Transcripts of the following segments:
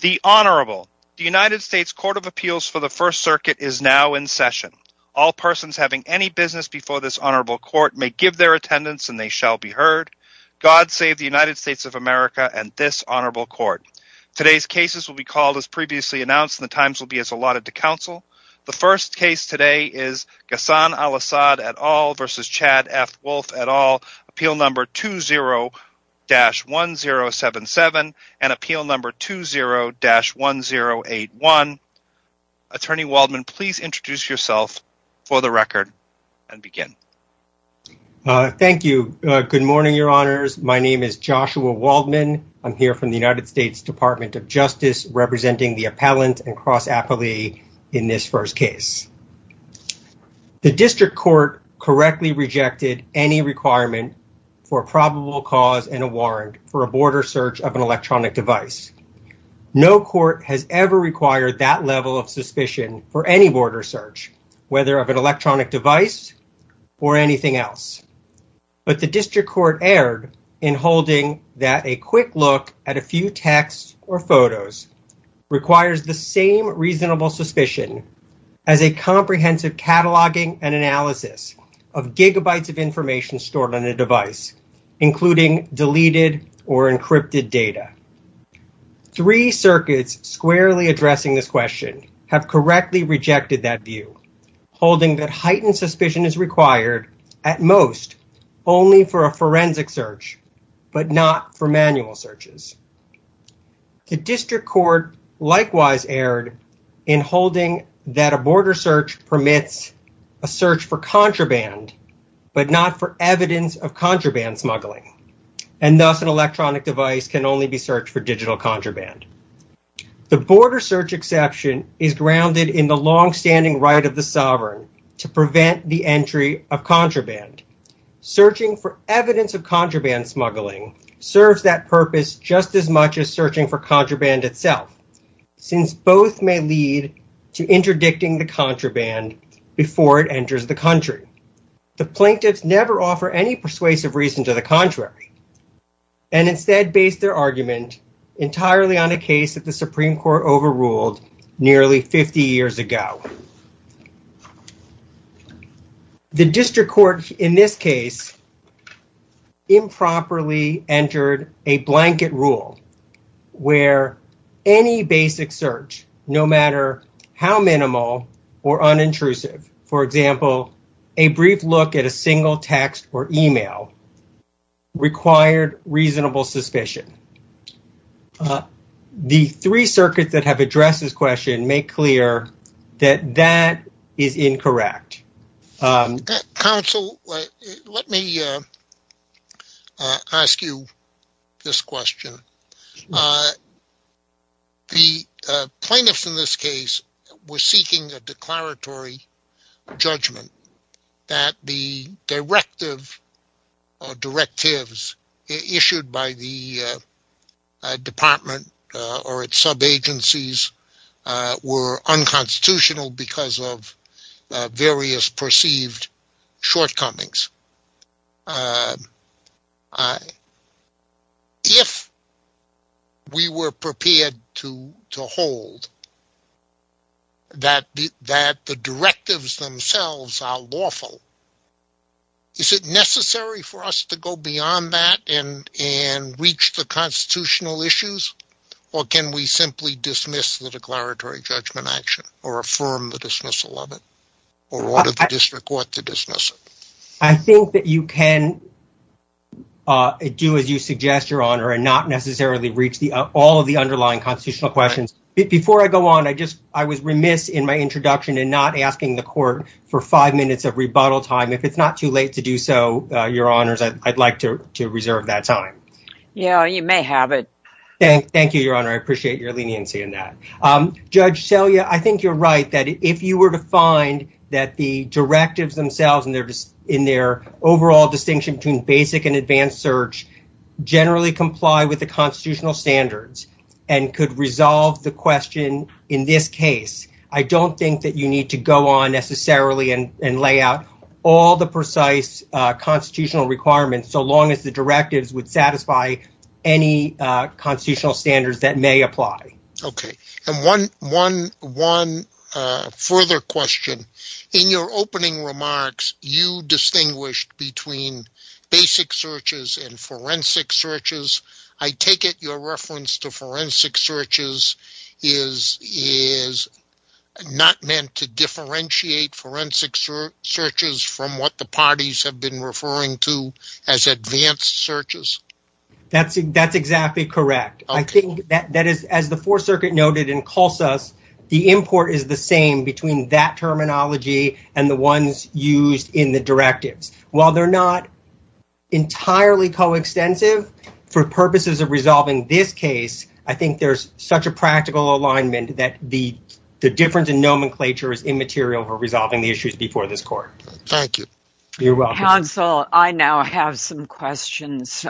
The Honorable, the United States Court of Appeals for the First Circuit is now in session. All persons having any business before this Honorable Court may give their attendance and they shall be heard. God save the United States of America and this Honorable Court. Today's cases will be called as previously announced and the times will be as allotted to counsel. The first case today is Ghassan Alasaad et al. v. Chad F. Wolf et al. Appeal No. 20-1077 and Appeal No. 20-1081. Attorney Waldman, please introduce yourself for the record and begin. Thank you. Good morning, Your Honors. My name is Joshua Waldman. I'm here from the United States Department of Justice representing the appellant and cross-appellee in this first case. The district court correctly rejected any requirement for probable cause and a warrant for a border search of an electronic device. No court has ever required that level of suspicion for any border search, whether of an electronic device or anything else. But the district court erred in holding that a quick look at a few texts or photos requires the same reasonable suspicion as a comprehensive cataloging and analysis of gigabytes of information stored on a device, including deleted or encrypted data. Three circuits squarely addressing this question have correctly rejected that view, holding that heightened suspicion is required, at most, only for a forensic search, but not for manual searches. The district court likewise erred in holding that a border search permits a search for contraband, but not for evidence of contraband smuggling, and thus an electronic device can only be searched for digital contraband. The border search exception is grounded in the longstanding right of the sovereign to prevent the entry of contraband. Searching for evidence of contraband smuggling serves that purpose just as much as searching for contraband itself, since both may lead to interdicting the contraband before it enters the country. The plaintiffs never offer any persuasive reason to the contrary, and instead base their argument entirely on a case that the Supreme Court overruled nearly 50 years ago. The district court, in this case, improperly entered a blanket rule where any basic search, no matter how minimal or unintrusive, for example, a brief look at a single text or email, required reasonable suspicion. The three circuits that have addressed this question make clear that that is incorrect. Counsel, let me ask you this question. The plaintiffs in this case were seeking a declaratory judgment that the directive or its department or its sub-agencies were unconstitutional because of various perceived shortcomings. If we were prepared to hold that the directives themselves are lawful, is it necessary for constitutional issues, or can we simply dismiss the declaratory judgment action or affirm the dismissal of it or order the district court to dismiss it? I think that you can do as you suggest, Your Honor, and not necessarily reach all of the underlying constitutional questions. Before I go on, I was remiss in my introduction in not asking the court for five minutes of rebuttal time. If it's not too late to do so, Your Honors, I'd like to reserve that time. Yeah, you may have it. Thank you, Your Honor. I appreciate your leniency in that. Judge Selye, I think you're right that if you were to find that the directives themselves in their overall distinction between basic and advanced search generally comply with the constitutional standards and could resolve the question in this case, I don't think that you need to go on necessarily and lay out all the precise constitutional requirements so long as the directives would satisfy any constitutional standards that may apply. Okay. And one further question. In your opening remarks, you distinguished between basic searches and forensic searches. I take it your reference to forensic searches is not meant to differentiate forensic searches from what the parties have been referring to as advanced searches? That's exactly correct. I think that as the Fourth Circuit noted in Colsus, the import is the same between that terminology and the ones used in the directives. While they're not entirely coextensive for purposes of resolving this case, I think there's such a practical alignment that the difference in nomenclature is immaterial for resolving the issues before this court. Thank you. You're welcome. Counsel, I now have some questions.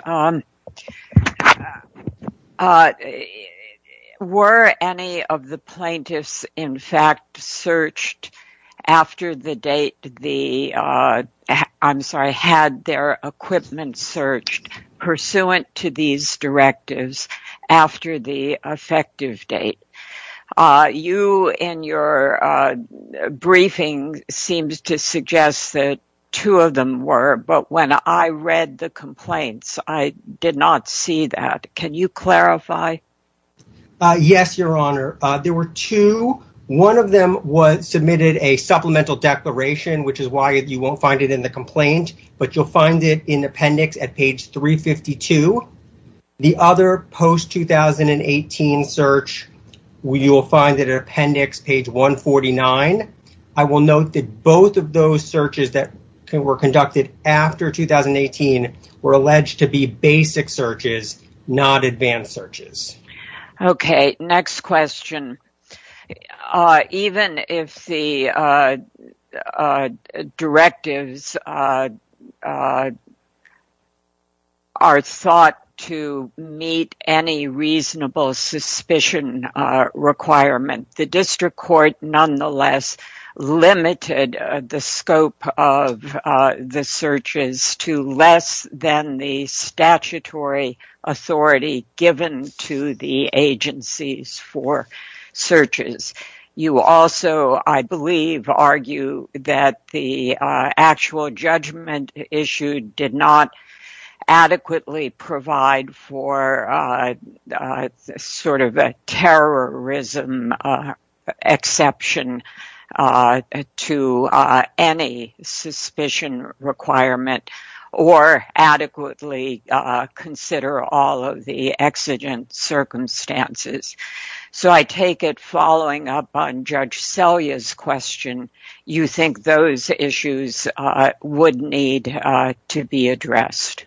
Were any of the plaintiffs, in fact, had their equipment searched pursuant to these directives after the effective date? You, in your briefing, seemed to suggest that two of them were, but when I read the complaints, I did not see that. Can you clarify? Yes, Your Honor. There were two. One of them submitted a supplemental declaration, which is why you won't find it in the complaint, but you'll find it in appendix at page 352. The other post-2018 search, you'll find it in appendix page 149. I will note that both of those searches that were conducted after 2018 were alleged to be basic searches, not advanced searches. Okay. Next question. Even if the directives are thought to meet any reasonable suspicion requirement, the district court nonetheless limited the scope of the searches to less than the statutory authority given to the agencies for searches. You also, I believe, argue that the actual judgment issued did not adequately provide for sort of a terrorism exception to any suspicion requirement or adequately consider all of the exigent circumstances. So, I take it, following up on Judge Selya's question, you think those issues would need to be addressed?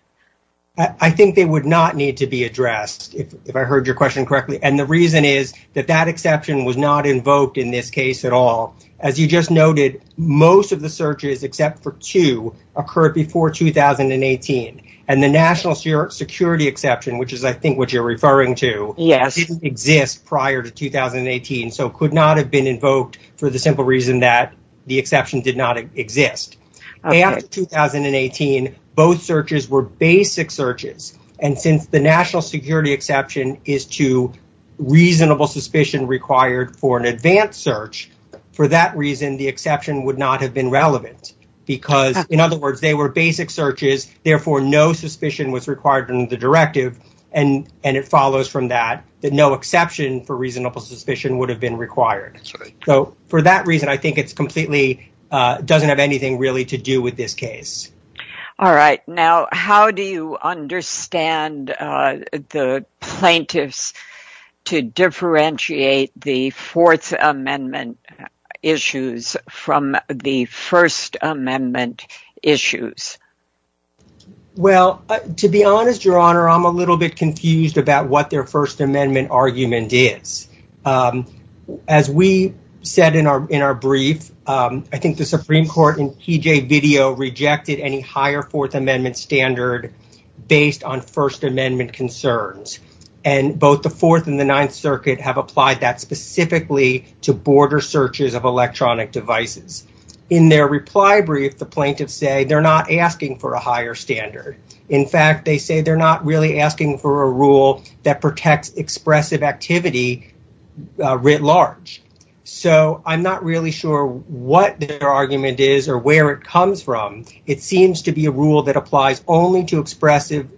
I think they would not need to be addressed, if I heard your question correctly, and the reason is that that exception was not invoked in this case at all. As you just noted, most of the searches except for two occurred before 2018, and the national security exception, which is I think what you're referring to, didn't exist prior to 2018, so could not have been invoked for the simple reason that the exception did not exist. After 2018, both searches were basic searches, and since the national security exception is to reasonable suspicion required for an advanced search, for that reason, the exception would not have been relevant because, in other words, they were basic searches, therefore no suspicion was required in the directive, and it follows from that that no exception for reasonable suspicion would have been required. For that reason, I think it completely doesn't have anything really to do with this case. All right. Now, how do you understand the plaintiffs to differentiate the Fourth Amendment issues from the First Amendment issues? Well, to be honest, Your Honor, I'm a little bit confused about what their First Amendment argument is. As we said in our brief, I think the Supreme Court in PJ video rejected any higher Fourth Amendment standard based on First Amendment concerns, and both the Fourth and the Ninth Circuit have applied that specifically to border searches of electronic devices. In their reply brief, the plaintiffs say they're not asking for a higher standard. In fact, they say they're not really asking for a rule that protects expressive activity writ large. So I'm not really sure what their argument is or where it comes from. It seems to be a rule that applies only to expressive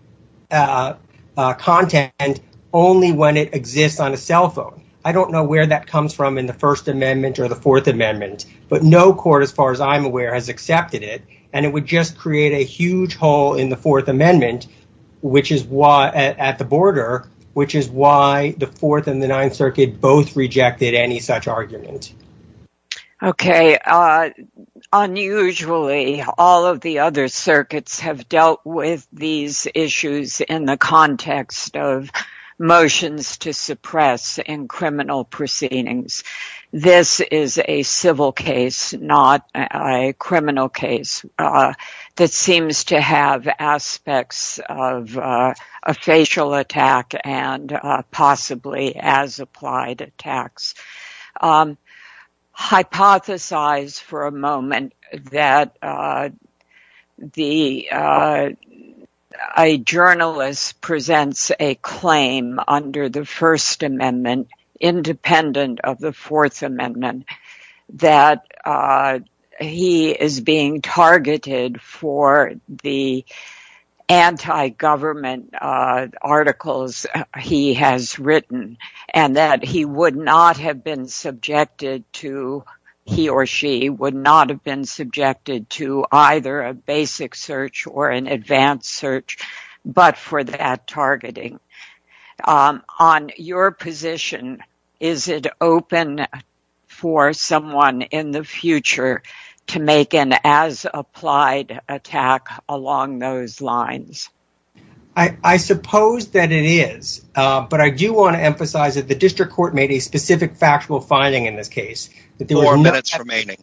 content and only when it exists on a cell phone. I don't know where that comes from in the First Amendment or the Fourth Amendment, but no court, as far as I'm aware, has accepted it, and it would just create a huge hole in the Fourth Amendment at the border, which is why the Fourth and the Ninth Circuit both rejected any such argument. Okay. Unusually, all of the other circuits have dealt with these issues in the context of motions to suppress in criminal proceedings. This is a civil case, not a criminal case, that seems to have aspects of a facial attack and possibly as-applied attacks. Hypothesize for a moment that a journalist presents a claim under the First Amendment independent of the Fourth Amendment, that he is being targeted for the anti-government articles he has written, and that he or she would not have been subjected to either a basic search or an advanced search but for that targeting. On your position, is it open for someone in the future to make an as-applied attack along those lines? I suppose that it is, but I do want to emphasize that the district court made a specific factual finding in this case. Four minutes remaining.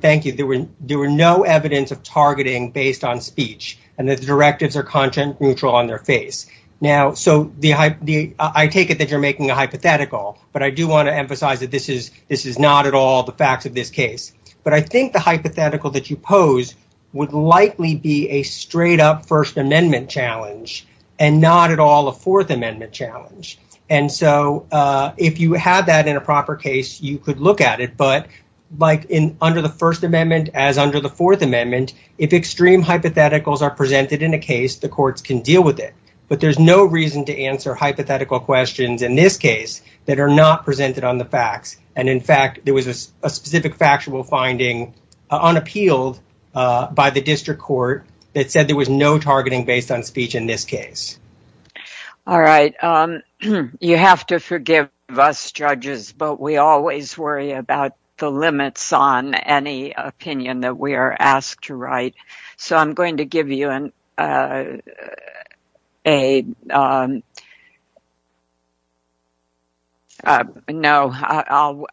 Thank you. There were no evidence of targeting based on speech and that the directives are content neutral on their face. I take it that you are making a hypothetical, but I do want to emphasize that this is not at all the facts of this case. I think the hypothetical that you pose would likely be a straight-up First Amendment challenge and not at all a Fourth Amendment challenge. If you have that in a proper case, you could look at it, but under the First Amendment as under the Fourth Amendment, if extreme hypotheticals are presented in a case, the there is no reason to answer hypothetical questions in this case that are not presented on the facts. In fact, there was a specific factual finding unappealed by the district court that said there was no targeting based on speech in this case. All right. You have to forgive us, judges, but we always worry about the limits on any opinion that we are asked to write. So I'm going to give you a... No,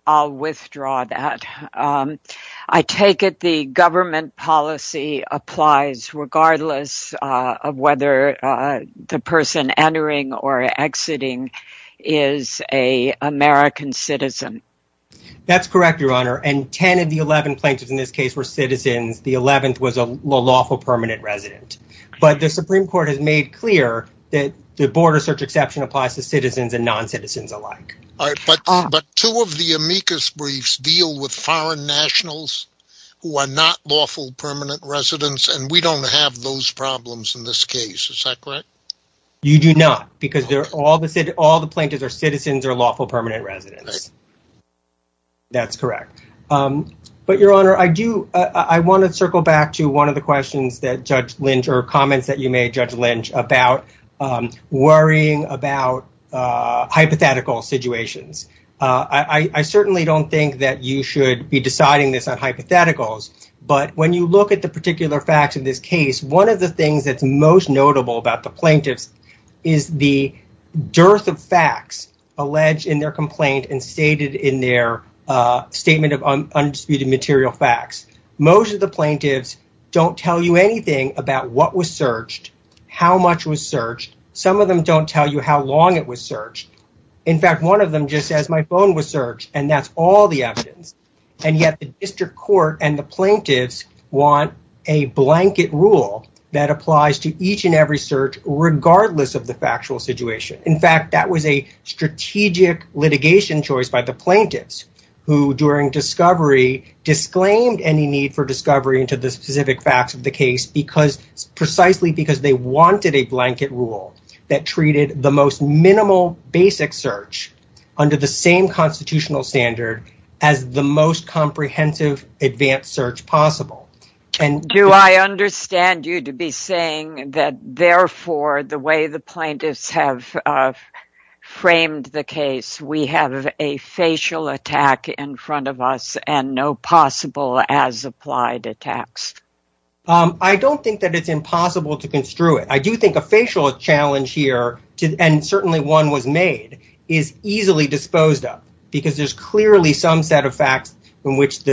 I'll withdraw that. I take it the government policy applies regardless of whether the person entering or exiting is an American citizen. That's correct, Your Honor, and 10 of the 11 plaintiffs in this case were citizens. The 11th was a lawful permanent resident, but the Supreme Court has made clear that the border search exception applies to citizens and non-citizens alike. But two of the amicus briefs deal with foreign nationals who are not lawful permanent residents, and we don't have those problems in this case. Is that correct? You do not because all the plaintiffs are citizens or lawful permanent residents. That's correct. But, Your Honor, I want to circle back to one of the questions that Judge Lynch or comments that you made, Judge Lynch, about worrying about hypothetical situations. I certainly don't think that you should be deciding this on hypotheticals, but when you look at the particular facts of this case, one of the things that's most notable about the plaintiffs is the dearth of facts alleged in their complaint and stated in their statement of undisputed material facts. Most of the plaintiffs don't tell you anything about what was searched, how much was searched. Some of them don't tell you how long it was searched. In fact, one of them just says, my phone was searched, and that's all the evidence. And yet the district court and the plaintiffs want a blanket rule that applies to each and regardless of the factual situation. In fact, that was a strategic litigation choice by the plaintiffs who, during discovery, disclaimed any need for discovery into the specific facts of the case precisely because they wanted a blanket rule that treated the most minimal basic search under the same constitutional standard as the most comprehensive advanced search possible. Do I understand you to be saying that, therefore, the way the plaintiffs have framed the case, we have a facial attack in front of us and no possible as-applied attacks? I don't think that it's impossible to construe it. I do think a facial challenge here, and certainly one was made, is easily disposed of because there's clearly some set of facts in which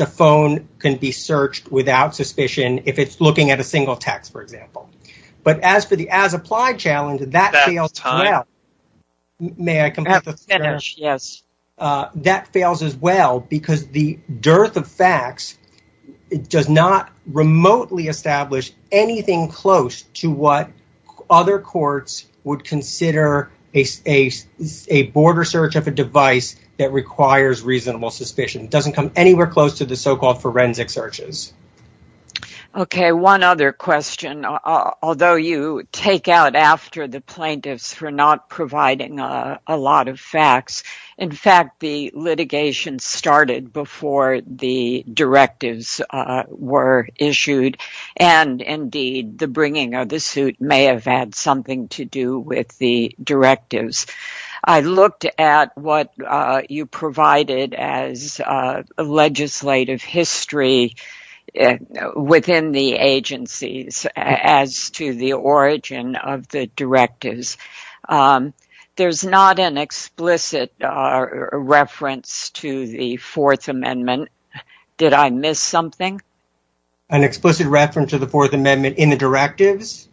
a phone can be searched without suspicion if it's looking at a single text, for example. But as for the as-applied challenge, that fails as well. That fails as well because the dearth of facts does not remotely establish anything close to what other courts would consider a border search of a device that requires reasonable suspicion. It doesn't come anywhere close to the so-called forensic searches. Okay, one other question. Although you take out after the plaintiffs for not providing a lot of facts, in fact, the litigation started before the directives were issued. And, indeed, the bringing of the suit may have had something to do with the directives. I looked at what you provided as legislative history within the agencies as to the origin of the directives. There's not an explicit reference to the Fourth Amendment. Did I miss something? An explicit reference to the Fourth Amendment in the directives?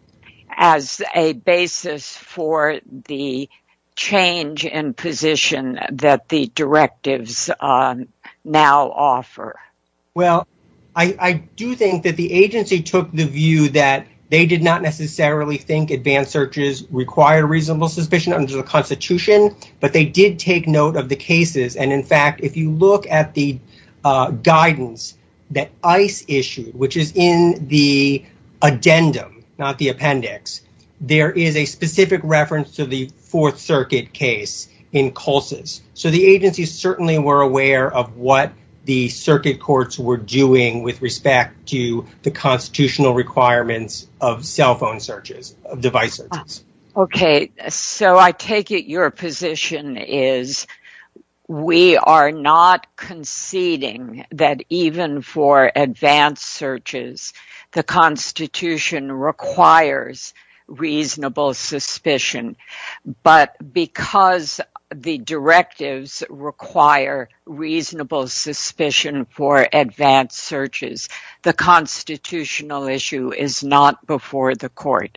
As a basis for the change in position that the directives now offer. Well, I do think that the agency took the view that they did not necessarily think advanced searches required reasonable suspicion under the Constitution. But they did take note of the cases. And, in fact, if you look at the guidance that ICE issued, which is in the addendum, not the appendix, there is a specific reference to the Fourth Circuit case in CULSES. So the agencies certainly were aware of what the circuit courts were doing with respect to the constitutional requirements of cell phone searches, of device searches. Okay, so I take it your position is we are not conceding that even for advanced searches, the Constitution requires reasonable suspicion. But because the directives require reasonable suspicion for advanced searches, the constitutional issue is not before the court.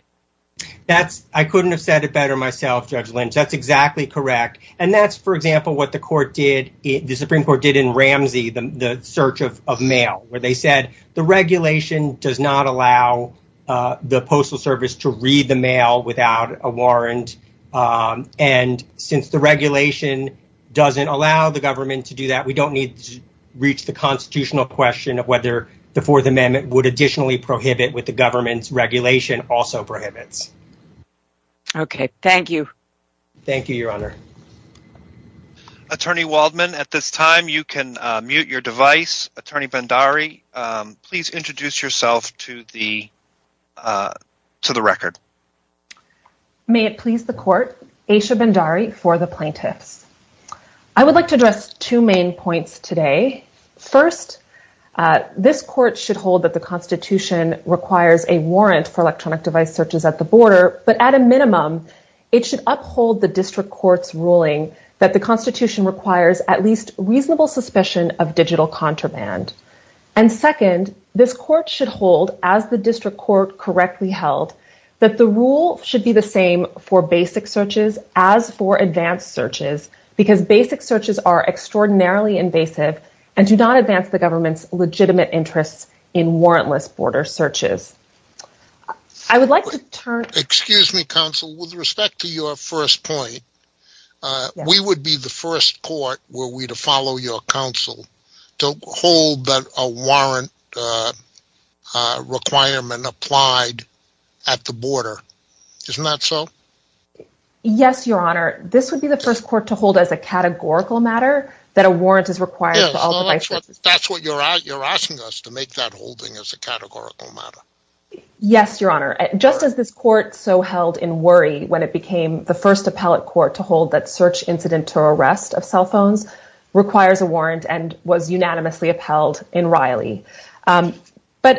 I couldn't have said it better myself, Judge Lynch. That's exactly correct. And that's, for example, what the Supreme Court did in Ramsey, the search of mail, where they said the regulation does not allow the Postal Service to read the mail without a warrant. And since the regulation doesn't allow the government to do that, we don't need to reach the constitutional question of whether the Fourth Amendment would additionally prohibit what the government's regulation also prohibits. Okay, thank you. Thank you, Your Honor. Attorney Waldman, at this time, you can mute your device. Attorney Bhandari, please introduce yourself to the record. May it please the court, Asha Bhandari for the plaintiffs. I would like to address two main points today. First, this court should hold that the Constitution requires a warrant for electronic device searches at the border. But at a minimum, it should uphold the district court's ruling that the Constitution requires at least reasonable suspicion of digital contraband. And second, this court should hold, as the district court correctly held, that the rule should be the same for basic searches as for advanced searches, because basic searches are extraordinarily invasive and do not advance the government's legitimate interests in warrantless border searches. Excuse me, counsel. With respect to your first point, we would be the first court, were we to follow your counsel, to hold that a warrant requirement applied at the border. Isn't that so? Yes, Your Honor. This would be the first court to hold as a categorical matter that a warrant is required for all devices. That's what you're asking us, to make that holding as a categorical matter. Yes, Your Honor. Just as this court so held in worry when it became the first appellate court to hold that search incident to arrest of cell phones requires a warrant and was unanimously upheld in Riley. But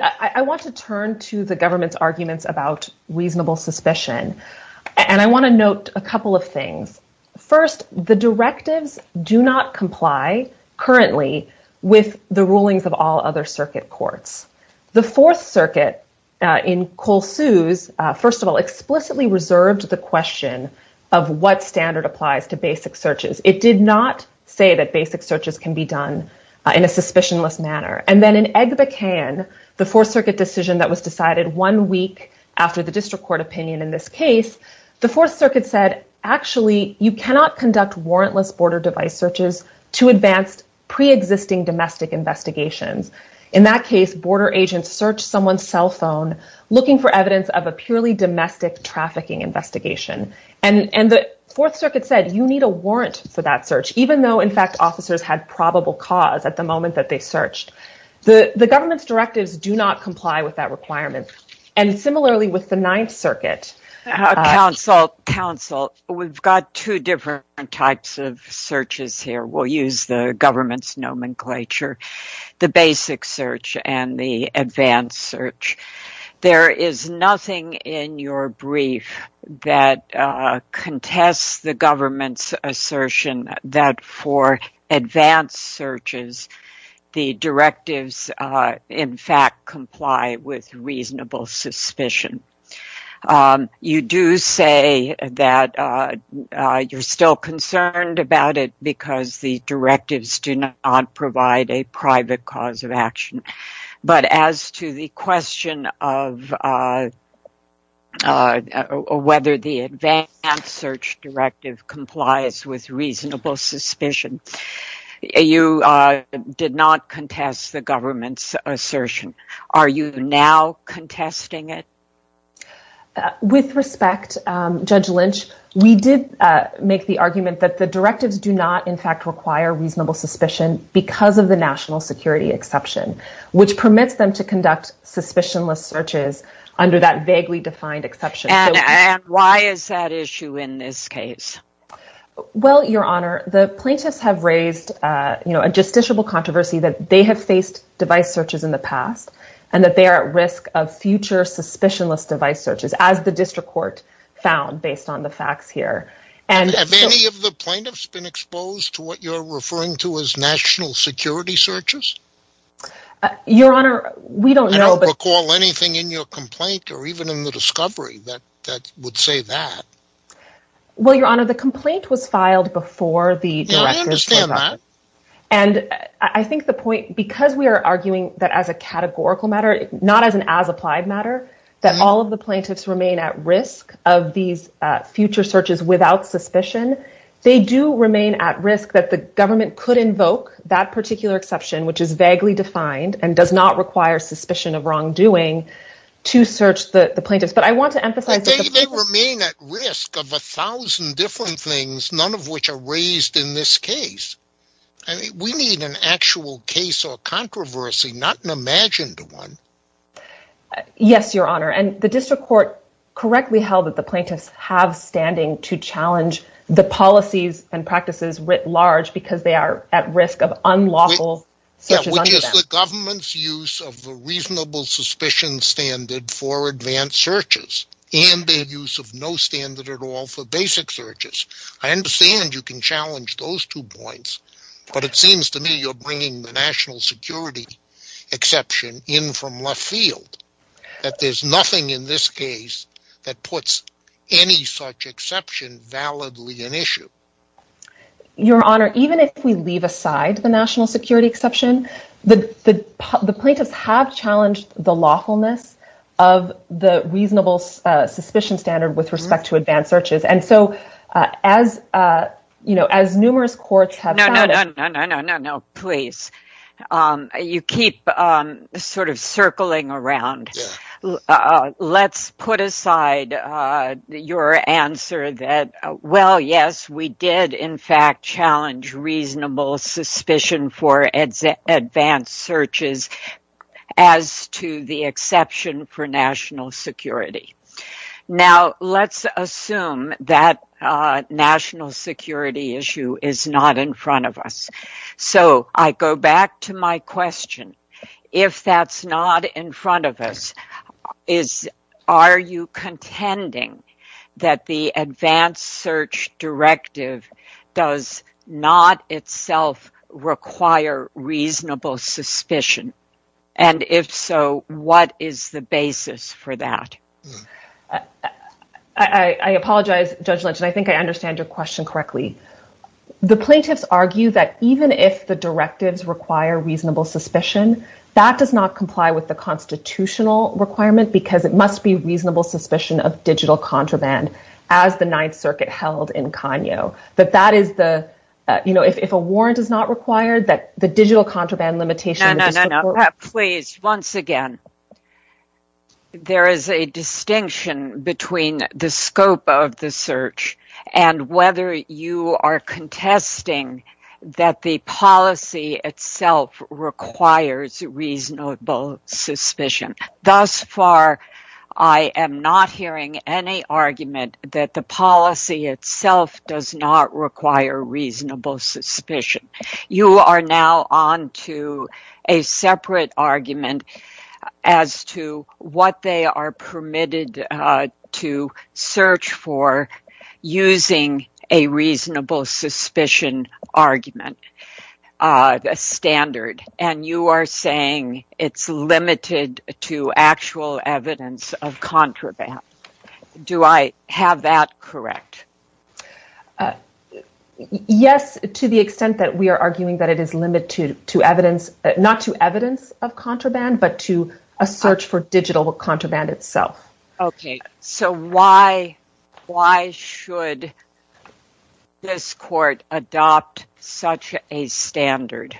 I want to turn to the government's arguments about reasonable suspicion. First, the directives do not comply currently with the rulings of all other circuit courts. The Fourth Circuit in Cole Suess, first of all, explicitly reserved the question of what standard applies to basic searches. It did not say that basic searches can be done in a suspicionless manner. And then in Egbekan, the Fourth Circuit decision that was decided one week after the district court opinion in this case, the Fourth Circuit said, actually, you cannot conduct warrantless border device searches to advanced pre-existing domestic investigations. In that case, border agents search someone's cell phone looking for evidence of a purely domestic trafficking investigation. And the Fourth Circuit said you need a warrant for that search, even though, in fact, officers had probable cause at the moment that they searched. The government's directives do not comply with that requirement. And similarly, with the Ninth Circuit. Counsel, we've got two different types of searches here. We'll use the government's nomenclature, the basic search and the advanced search. There is nothing in your brief that contests the government's assertion that for advanced searches, the directives, in fact, comply with reasonable suspicion. You do say that you're still concerned about it because the directives do not provide a private cause of action. But as to the question of whether the advanced search directive complies with reasonable suspicion, you did not contest the government's assertion. Are you now contesting it? With respect, Judge Lynch, we did make the argument that the directives do not, in fact, require reasonable suspicion because of the national security exception, which permits them to conduct suspicionless searches under that vaguely defined exception. And why is that issue in this case? Well, Your Honor, the plaintiffs have raised a justiciable controversy that they have faced device searches in the past and that they are at risk of future suspicionless device searches, as the district court found based on the facts here. Have any of the plaintiffs been exposed to what you're referring to as national security searches? Your Honor, we don't know. I don't recall anything in your complaint or even in the discovery that would say that. Well, Your Honor, the complaint was filed before the directors. And I think the point, because we are arguing that as a categorical matter, not as an as applied matter, that all of the plaintiffs remain at risk of these future searches without suspicion. They do remain at risk that the government could invoke that particular exception, which is vaguely defined and does not require suspicion of wrongdoing to search the plaintiffs. They remain at risk of a thousand different things, none of which are raised in this case. We need an actual case or controversy, not an imagined one. Yes, Your Honor. And the district court correctly held that the plaintiffs have standing to challenge the policies and practices writ large because they are at risk of unlawful searches under them. It's the government's use of a reasonable suspicion standard for advanced searches and their use of no standard at all for basic searches. I understand you can challenge those two points, but it seems to me you're bringing the national security exception in from left field. That there's nothing in this case that puts any such exception validly an issue. Your Honor, even if we leave aside the national security exception, the plaintiffs have challenged the lawfulness of the reasonable suspicion standard with respect to advanced searches. No, no, no, no, no, no, please. You keep sort of circling around. Let's put aside your answer that, well, yes, we did in fact challenge reasonable suspicion for advanced searches as to the exception for national security. Now let's assume that national security issue is not in front of us. So I go back to my question. If that's not in front of us, are you contending that the advanced search directive does not itself require reasonable suspicion? And if so, what is the basis for that? I apologize, Judge Lynch, and I think I understand your question correctly. The plaintiffs argue that even if the directives require reasonable suspicion, that does not comply with the constitutional requirement because it must be reasonable suspicion of digital contraband as the Ninth Circuit held in Kanyo. That that is the, you know, if a warrant is not required, that the digital contraband limitation... Please, once again, there is a distinction between the scope of the search and whether you are contesting that the policy itself requires reasonable suspicion. Thus far, I am not hearing any argument that the policy itself does not require reasonable suspicion. You are now on to a separate argument as to what they are permitted to search for using a reasonable suspicion argument standard. And you are saying it's limited to actual evidence of contraband. Do I have that correct? Yes, to the extent that we are arguing that it is limited to evidence, not to evidence of contraband, but to a search for digital contraband itself. Okay, so why should this court adopt such a standard?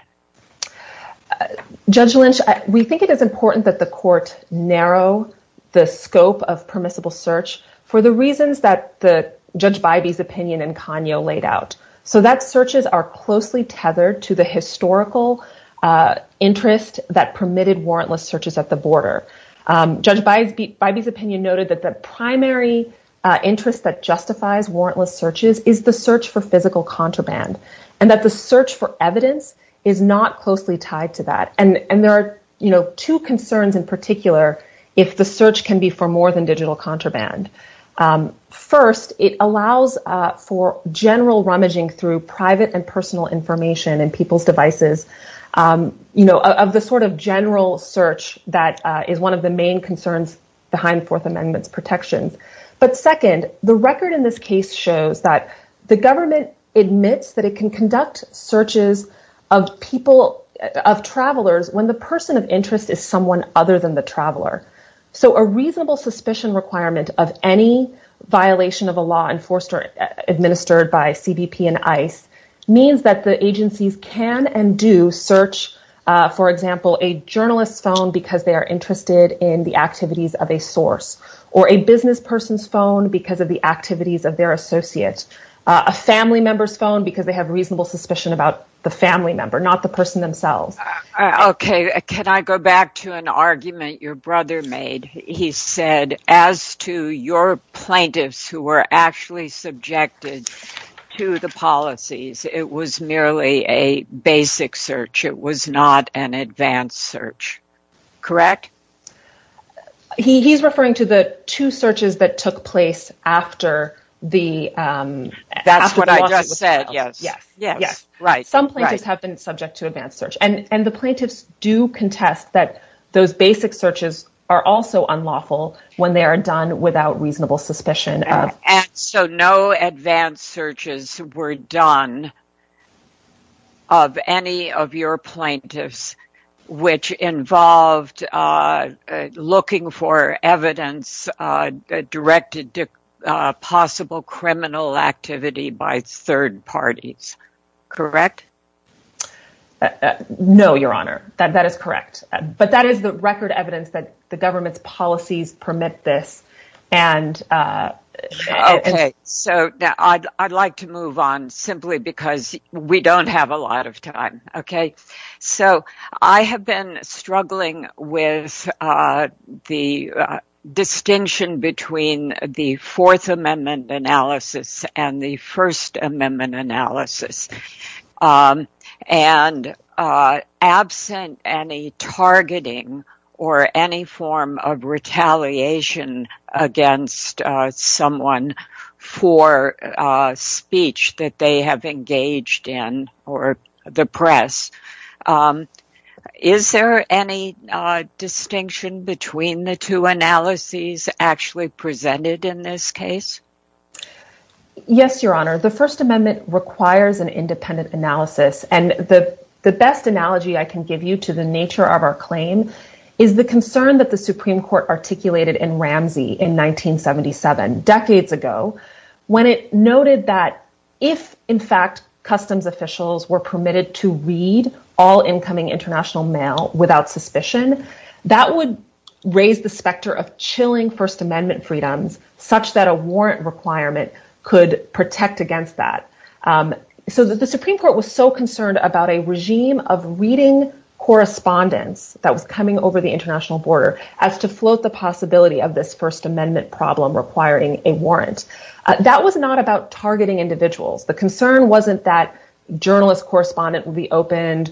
Judge Lynch, we think it is important that the court narrow the scope of permissible search for the reasons that Judge Bybee's opinion in Kanyo laid out. So that searches are closely tethered to the historical interest that permitted warrantless searches at the border. Judge Bybee's opinion noted that the primary interest that justifies warrantless searches is the search for physical contraband. And that the search for evidence is not closely tied to that. And there are two concerns in particular if the search can be for more than digital contraband. First, it allows for general rummaging through private and personal information and people's devices of the sort of general search that is one of the main concerns behind Fourth Amendment protections. But second, the record in this case shows that the government admits that it can conduct searches of travelers when the person of interest is someone other than the traveler. So a reasonable suspicion requirement of any violation of a law enforced or administered by CBP and ICE means that the agencies can and do search, for example, a journalist's phone because they are interested in the activities of a source. Or a business person's phone because of the activities of their associate. A family member's phone because they have reasonable suspicion about the family member, not the person themselves. Okay, can I go back to an argument your brother made? He said as to your plaintiffs who were actually subjected to the policies, it was merely a basic search. It was not an advanced search. Correct? He's referring to the two searches that took place after the lawsuit was filed. That's what I just said, yes. Some plaintiffs have been subject to advanced search. And the plaintiffs do contest that those basic searches are also unlawful when they are done without reasonable suspicion. So no advanced searches were done of any of your plaintiffs which involved looking for evidence directed to possible criminal activity by third parties. Correct? No, Your Honor. That is correct. But that is the record evidence that the government's policies permit this. Okay, so I'd like to move on simply because we don't have a lot of time. Okay, so I have been struggling with the distinction between the Fourth Amendment analysis and the First Amendment analysis. And absent any targeting or any form of retaliation against someone for speech that they have engaged in or the press, is there any distinction between the two analyses actually presented in this case? Yes, Your Honor. The First Amendment requires an independent analysis. And the best analogy I can give you to the nature of our claim is the concern that the Supreme Court articulated in Ramsey in 1977, decades ago, when it noted that if, in fact, customs officials were permitted to read all incoming international mail without suspicion, that would raise the specter of chilling First Amendment freedoms such that a warrant requirement could protect against that. So the Supreme Court was so concerned about a regime of reading correspondence that was coming over the international border as to float the possibility of this First Amendment problem requiring a warrant. That was not about targeting individuals. The concern wasn't that journalist correspondent would be opened,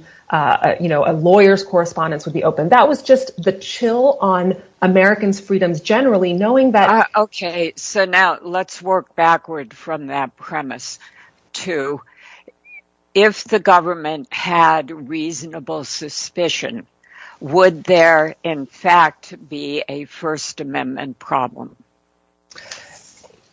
you know, a lawyer's correspondence would be opened. That was just the chill on Americans' freedoms generally knowing that... Okay, so now let's work backward from that premise to if the government had reasonable suspicion, would there, in fact, be a First Amendment problem?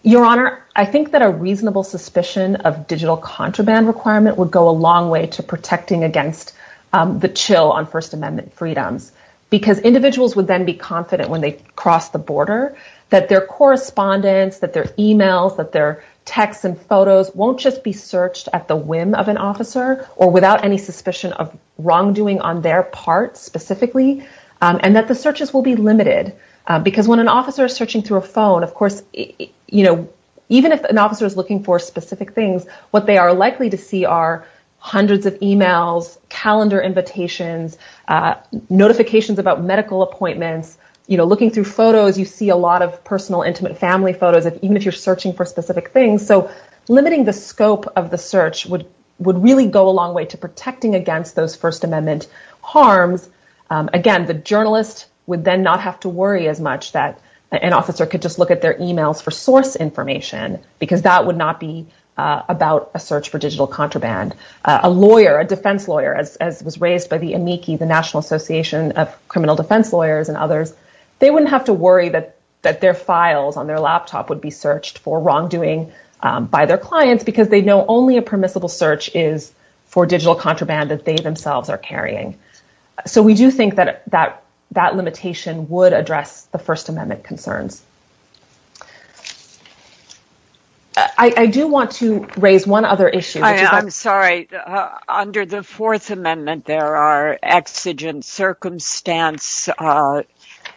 Your Honor, I think that a reasonable suspicion of digital contraband requirement would go a long way to protecting against the chill on First Amendment freedoms because individuals would then be confident when they cross the border that their correspondence, that their e-mails, that their texts and photos won't just be searched at the whim of an officer or without any suspicion of wrongdoing on their part specifically, and that the searches will be limited. Because when an officer is searching through a phone, of course, you know, even if an officer is looking for specific things, what they are likely to see are hundreds of e-mails, calendar invitations, notifications about medical appointments. You know, looking through photos, you see a lot of personal intimate family photos, even if you're searching for specific things. So limiting the scope of the search would really go a long way to protecting against those First Amendment harms. Again, the journalist would then not have to worry as much that an officer could just look at their e-mails for source information because that would not be about a search for digital contraband. A lawyer, a defense lawyer, as was raised by the National Association of Criminal Defense Lawyers and others, they wouldn't have to worry that their files on their laptop would be searched for wrongdoing by their clients because they know only a permissible search is for digital contraband that they themselves are carrying. So we do think that that limitation would address the First Amendment concerns. I do want to raise one other issue. I'm sorry. Under the Fourth Amendment, there are exigent circumstance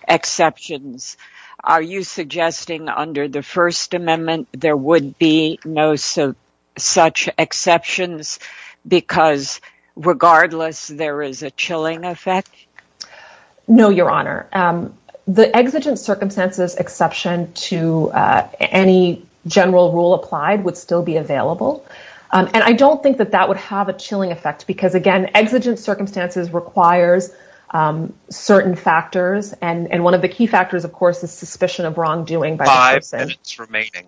exceptions. Are you suggesting under the First Amendment there would be no such exceptions? Because regardless, there is a chilling effect? No, Your Honor. The exigent circumstances exception to any general rule applied would still be available. And I don't think that that would have a chilling effect because, again, exigent circumstances requires certain factors. And one of the key factors, of course, is suspicion of wrongdoing by the person. Five minutes remaining.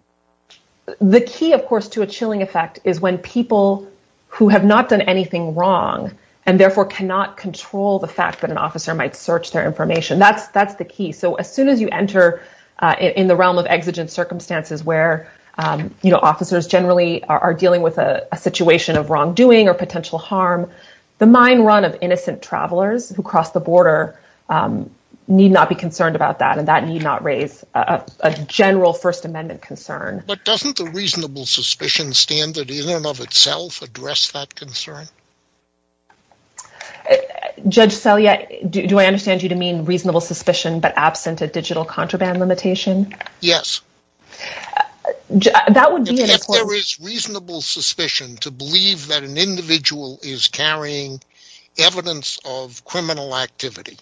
The key, of course, to a chilling effect is when people who have not done anything wrong and therefore cannot control the fact that an officer might search their information. That's that's the key. So as soon as you enter in the realm of exigent circumstances where, you know, officers generally are dealing with a situation of wrongdoing or potential harm, the mind run of innocent travelers who cross the border need not be concerned about that. And that need not raise a general First Amendment concern. But doesn't the reasonable suspicion standard in and of itself address that concern? Judge Selye, do I understand you to mean reasonable suspicion, but absent a digital contraband limitation? Yes. If there is reasonable suspicion to believe that an individual is carrying evidence of criminal activity,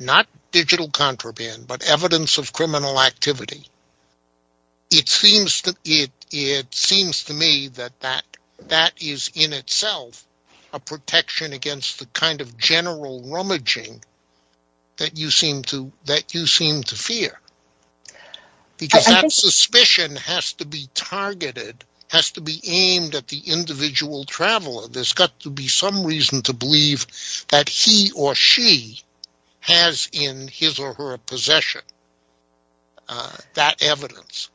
not digital contraband, but evidence of criminal activity, it seems to me that that is in itself a protection against the kind of general rummaging that you seem to fear. Because that suspicion has to be targeted, has to be aimed at the individual traveler. There's got to be some reason to believe that he or she has in his or her possession that evidence.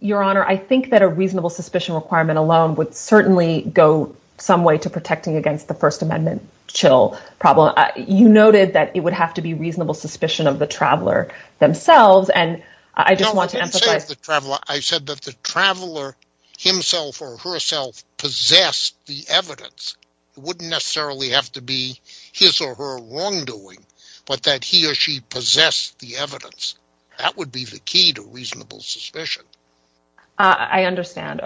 Your Honor, I think that a reasonable suspicion requirement alone would certainly go some way to protecting against the First Amendment chill problem. You noted that it would have to be reasonable suspicion of the traveler themselves. I said that the traveler himself or herself possessed the evidence. It wouldn't necessarily have to be his or her wrongdoing, but that he or she possessed the evidence. That would be the key to reasonable suspicion. I understand.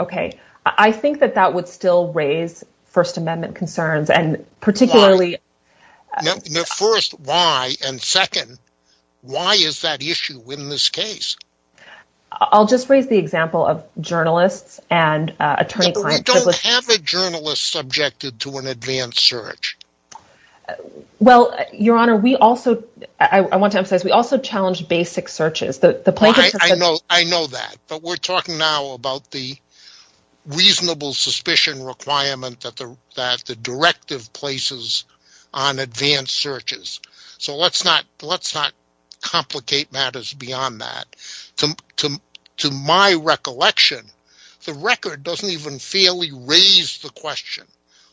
I think that that would still raise First Amendment concerns. Why? First, why? Second, why is that issue in this case? I'll just raise the example of journalists and attorney-client... We don't have a journalist subjected to an advanced search. Your Honor, I want to emphasize that we also challenge basic searches. I know that, but we're talking now about the reasonable suspicion requirement that the directive places on advanced searches. So let's not complicate matters beyond that. To my recollection, the record doesn't even fairly raise the question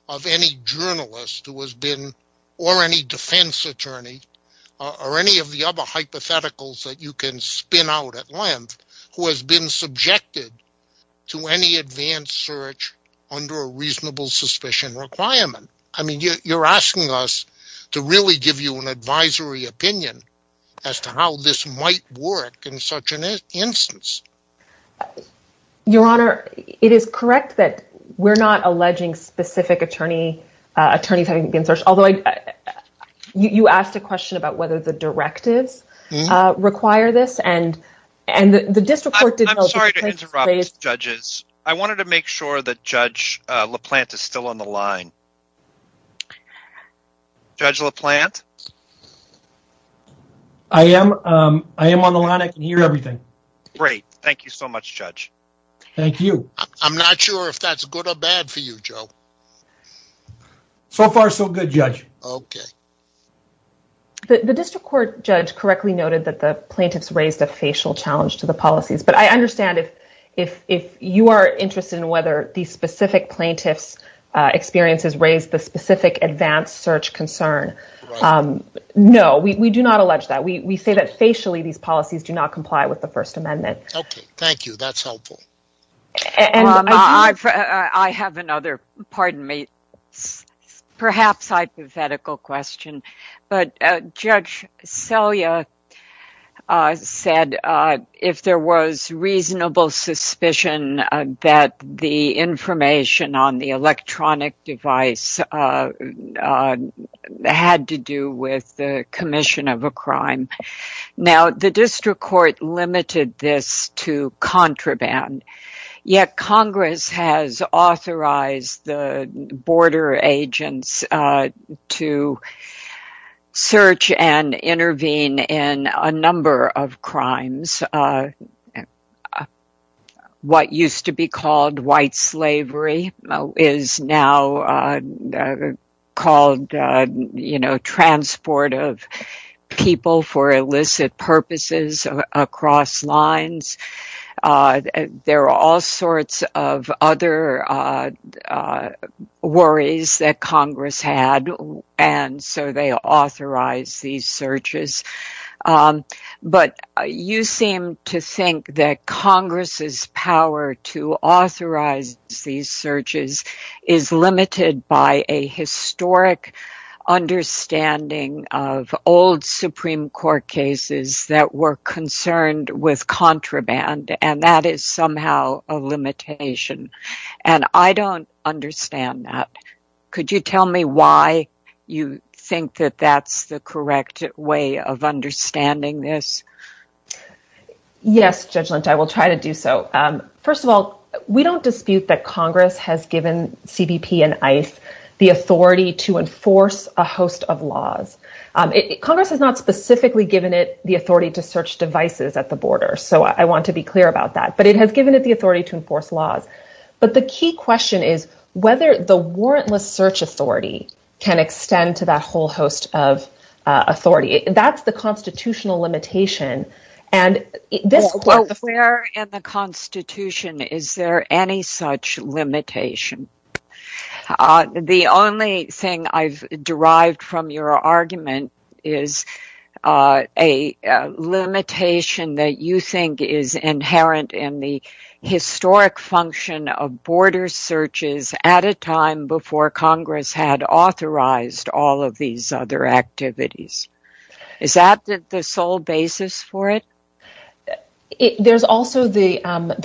of any journalist or any defense attorney or any of the other hypotheticals that you can spin out at length who has been subjected to any advanced search under a reasonable suspicion requirement. You're asking us to really give you an advisory opinion as to how this might work in such an instance. Your Honor, it is correct that we're not alleging specific attorneys having been searched. You asked a question about whether the directives require this. I'm sorry to interrupt, Judges. I wanted to make sure that Judge LaPlante is still on the line. Judge LaPlante? I am on the line. I can hear everything. Great. Thank you so much, Judge. Thank you. I'm not sure if that's good or bad for you, Joe. So far, so good, Judge. Okay. The district court judge correctly noted that the plaintiffs raised a facial challenge to the policies, but I understand if you are interested in whether these specific plaintiffs' experiences raise the specific advanced search concern. No, we do not allege that. We say that facially these policies do not comply with the First Amendment. Okay. Thank you. That's helpful. I have another, pardon me, perhaps hypothetical question. But Judge Selye said if there was reasonable suspicion that the information on the electronic device had to do with the commission of a crime. Now, the district court limited this to contraband, yet Congress has authorized the border agents to search and intervene in a number of crimes. What used to be called white slavery is now called transport of people for illicit purposes across lines. There are all sorts of other worries that Congress had, and so they authorized these searches. But you seem to think that Congress's power to authorize these searches is limited by a historic understanding of old Supreme Court cases that were concerned with contraband, and that is somehow a limitation. And I don't understand that. Could you tell me why you think that that's the correct way of understanding this? Yes, Judge Lynch, I will try to do so. First of all, we don't dispute that Congress has given CBP and ICE the authority to enforce a host of laws. Congress has not specifically given it the authority to search devices at the border, so I want to be clear about that. But it has given it the authority to enforce laws. But the key question is whether the warrantless search authority can extend to that whole host of authority. That's the constitutional limitation. Where in the Constitution is there any such limitation? The only thing I've derived from your argument is a limitation that you think is inherent in the historic function of border searches at a time before Congress had authorized all of these other activities. Is that the sole basis for it? There's also the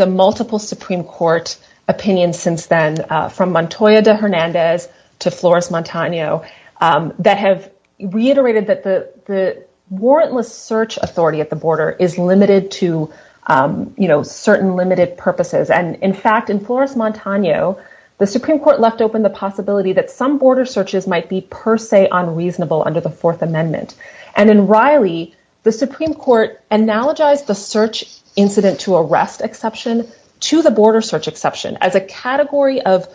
multiple Supreme Court opinions since then, from Montoya de Hernandez to Flores Montano, that have reiterated that the warrantless search authority at the border is limited to certain limited purposes. And in fact, in Flores Montano, the Supreme Court left open the possibility that some border searches might be per se unreasonable under the Fourth Amendment. And in Riley, the Supreme Court analogized the search incident to arrest exception to the border search exception as a category of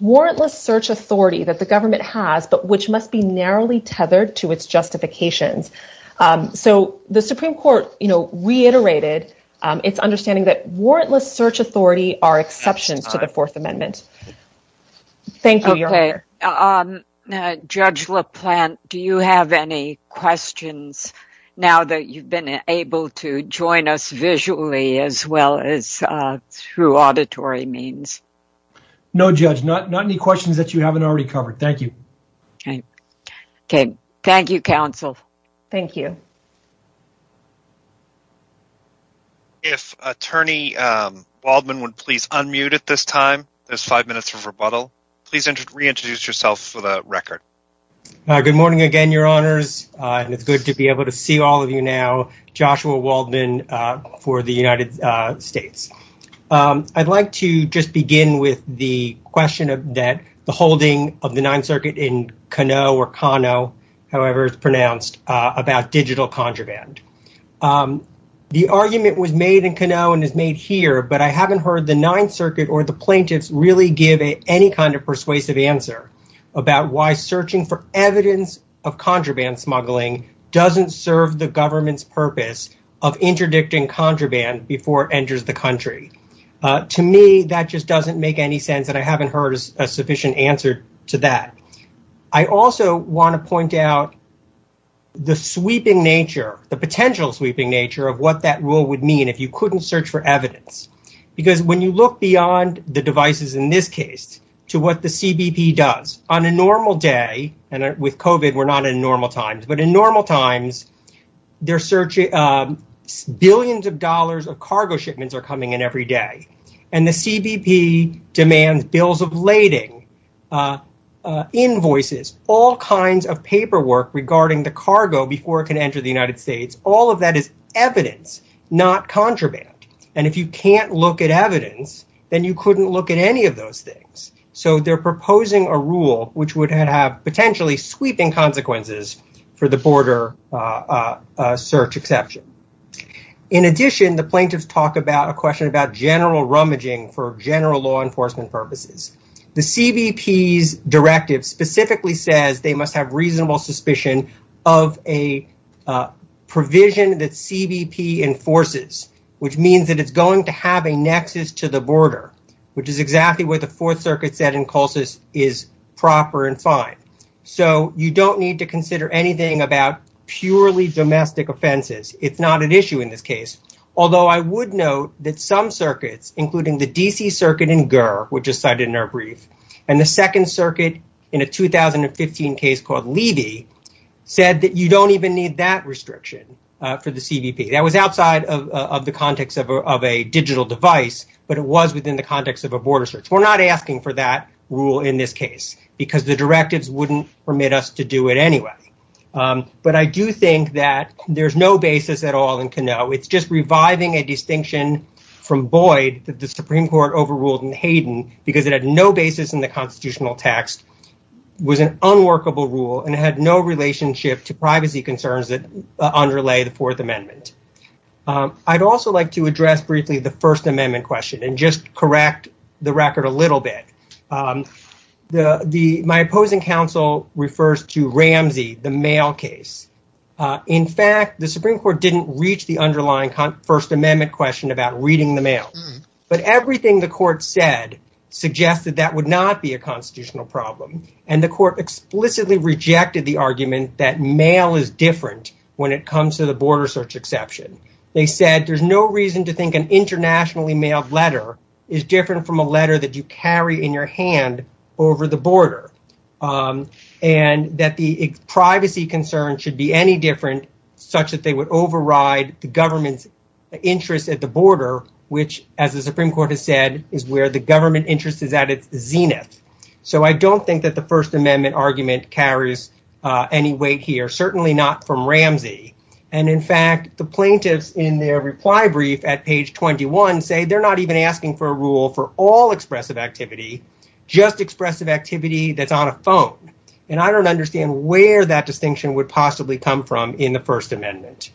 warrantless search authority that the government has, but which must be narrowly tethered to its justifications. So the Supreme Court reiterated its understanding that warrantless search authority are exceptions to the Fourth Amendment. Judge LaPlante, do you have any questions now that you've been able to join us visually as well as through auditory means? No, Judge, not any questions that you haven't already covered. Thank you. Okay. Thank you, counsel. Thank you. If Attorney Waldman would please unmute at this time, there's five minutes of rebuttal. Please reintroduce yourself for the record. Good morning again, Your Honors. And it's good to be able to see all of you now. Joshua Waldman for the United States. I'd like to just begin with the question that the holding of the Ninth Circuit in Canoe or Cano, however it's pronounced, about digital contraband. The argument was made in Canoe and is made here, but I haven't heard the Ninth Circuit or the plaintiffs really give any kind of persuasive answer about why searching for evidence of contraband smuggling doesn't serve the government's purpose of interdicting contraband before it enters the country. To me, that just doesn't make any sense, and I haven't heard a sufficient answer to that. I also want to point out the sweeping nature, the potential sweeping nature of what that rule would mean if you couldn't search for evidence. Because when you look beyond the devices in this case to what the CBP does on a normal day, and with COVID we're not in normal times, but in normal times, billions of dollars of cargo shipments are coming in every day. And the CBP demands bills of lading, invoices, all kinds of paperwork regarding the cargo before it can enter the United States, all of that is evidence, not contraband. And if you can't look at evidence, then you couldn't look at any of those things. So they're proposing a rule which would have potentially sweeping consequences for the border search exception. In addition, the plaintiffs talk about a question about general rummaging for general law enforcement purposes. The CBP's directive specifically says they must have reasonable suspicion of a provision that CBP enforces, which means that it's going to have a nexus to the border, which is exactly what the Fourth Circuit said in Colsus is proper and fine. So you don't need to consider anything about purely domestic offenses. It's not an issue in this case. Although I would note that some circuits, including the DC Circuit in GER, which is cited in our brief, and the Second Circuit in a 2015 case called Levy, said that you don't even need that restriction for the CBP. That was outside of the context of a digital device, but it was within the context of a border search. We're not asking for that rule in this case because the directives wouldn't permit us to do it anyway. But I do think that there's no basis at all in Canoe. It's just reviving a distinction from Boyd that the Supreme Court overruled in Hayden because it had no basis in the constitutional text. It was an unworkable rule and it had no relationship to privacy concerns that underlay the Fourth Amendment. I'd also like to address briefly the First Amendment question and just correct the record a little bit. My opposing counsel refers to Ramsey, the mail case. In fact, the Supreme Court didn't reach the underlying First Amendment question about reading the mail. But everything the court said suggested that would not be a constitutional problem. The court explicitly rejected the argument that mail is different when it comes to the border search exception. They said there's no reason to think an internationally mailed letter is different from a letter that you carry in your hand over the border. And that the privacy concern should be any different such that they would override the government's interest at the border, which as the Supreme Court has said, is where the government interest is at its zenith. So I don't think that the First Amendment argument carries any weight here, certainly not from Ramsey. And in fact, the plaintiffs in their reply brief at page 21 say they're not even asking for a rule for all expressive activity, just expressive activity that's on a phone. And I don't understand where that distinction would possibly come from in the First Amendment.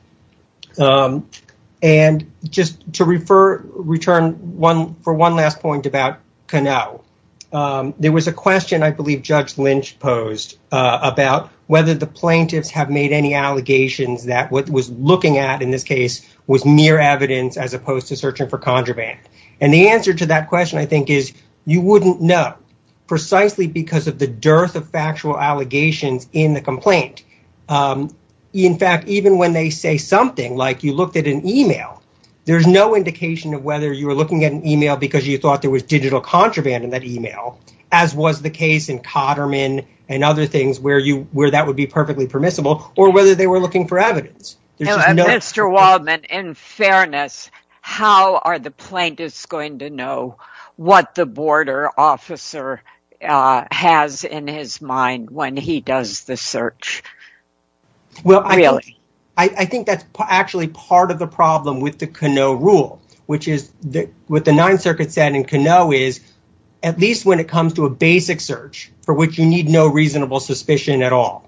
And just to return for one last point about Canoe, there was a question I believe Judge Lynch posed about whether the plaintiffs have made any allegations that what was looking at in this case was mere evidence as opposed to searching for contraband. And the answer to that question, I think, is you wouldn't know precisely because of the dearth of factual allegations in the complaint. In fact, even when they say something like you looked at an email, there's no indication of whether you were looking at an email because you thought there was digital contraband in that email, as was the case in Cotterman and other things where that would be perfectly permissible, or whether they were looking for evidence. And Mr. Waldman, in fairness, how are the plaintiffs going to know what the border officer has in his mind when he does the search? Well, I think that's actually part of the problem with the Canoe rule, which is what the Ninth Circuit said in Canoe is, at least when it comes to a basic search for which you need no reasonable suspicion at all,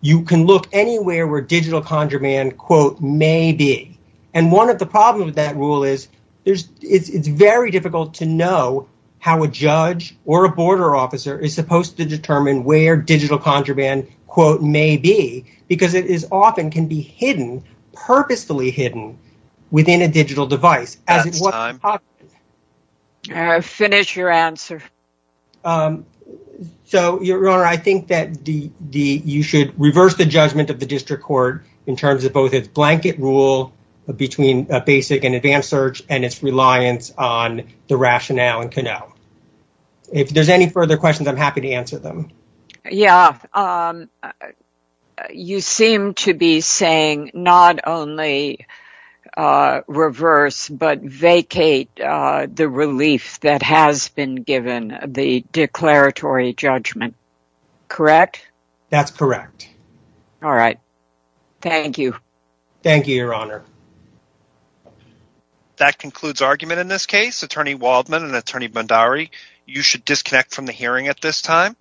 you can look anywhere where digital contraband, quote, maybe. And one of the problems with that rule is it's very difficult to know how a judge or a border officer is supposed to determine where digital contraband, quote, maybe, because it often can be hidden, purposefully hidden within a digital device. Finish your answer. So, Your Honor, I think that you should reverse the judgment of the district court in terms of both its blanket rule between a basic and advanced search and its reliance on the rationale in Canoe. If there's any further questions, I'm happy to answer them. Yeah. You seem to be saying not only reverse, but vacate the relief that has been given the declaratory judgment. Correct? That's correct. All right. Thank you. Thank you, Your Honor. That concludes argument in this case. Attorney Waldman and Attorney Bondari, you should disconnect from the hearing at this time.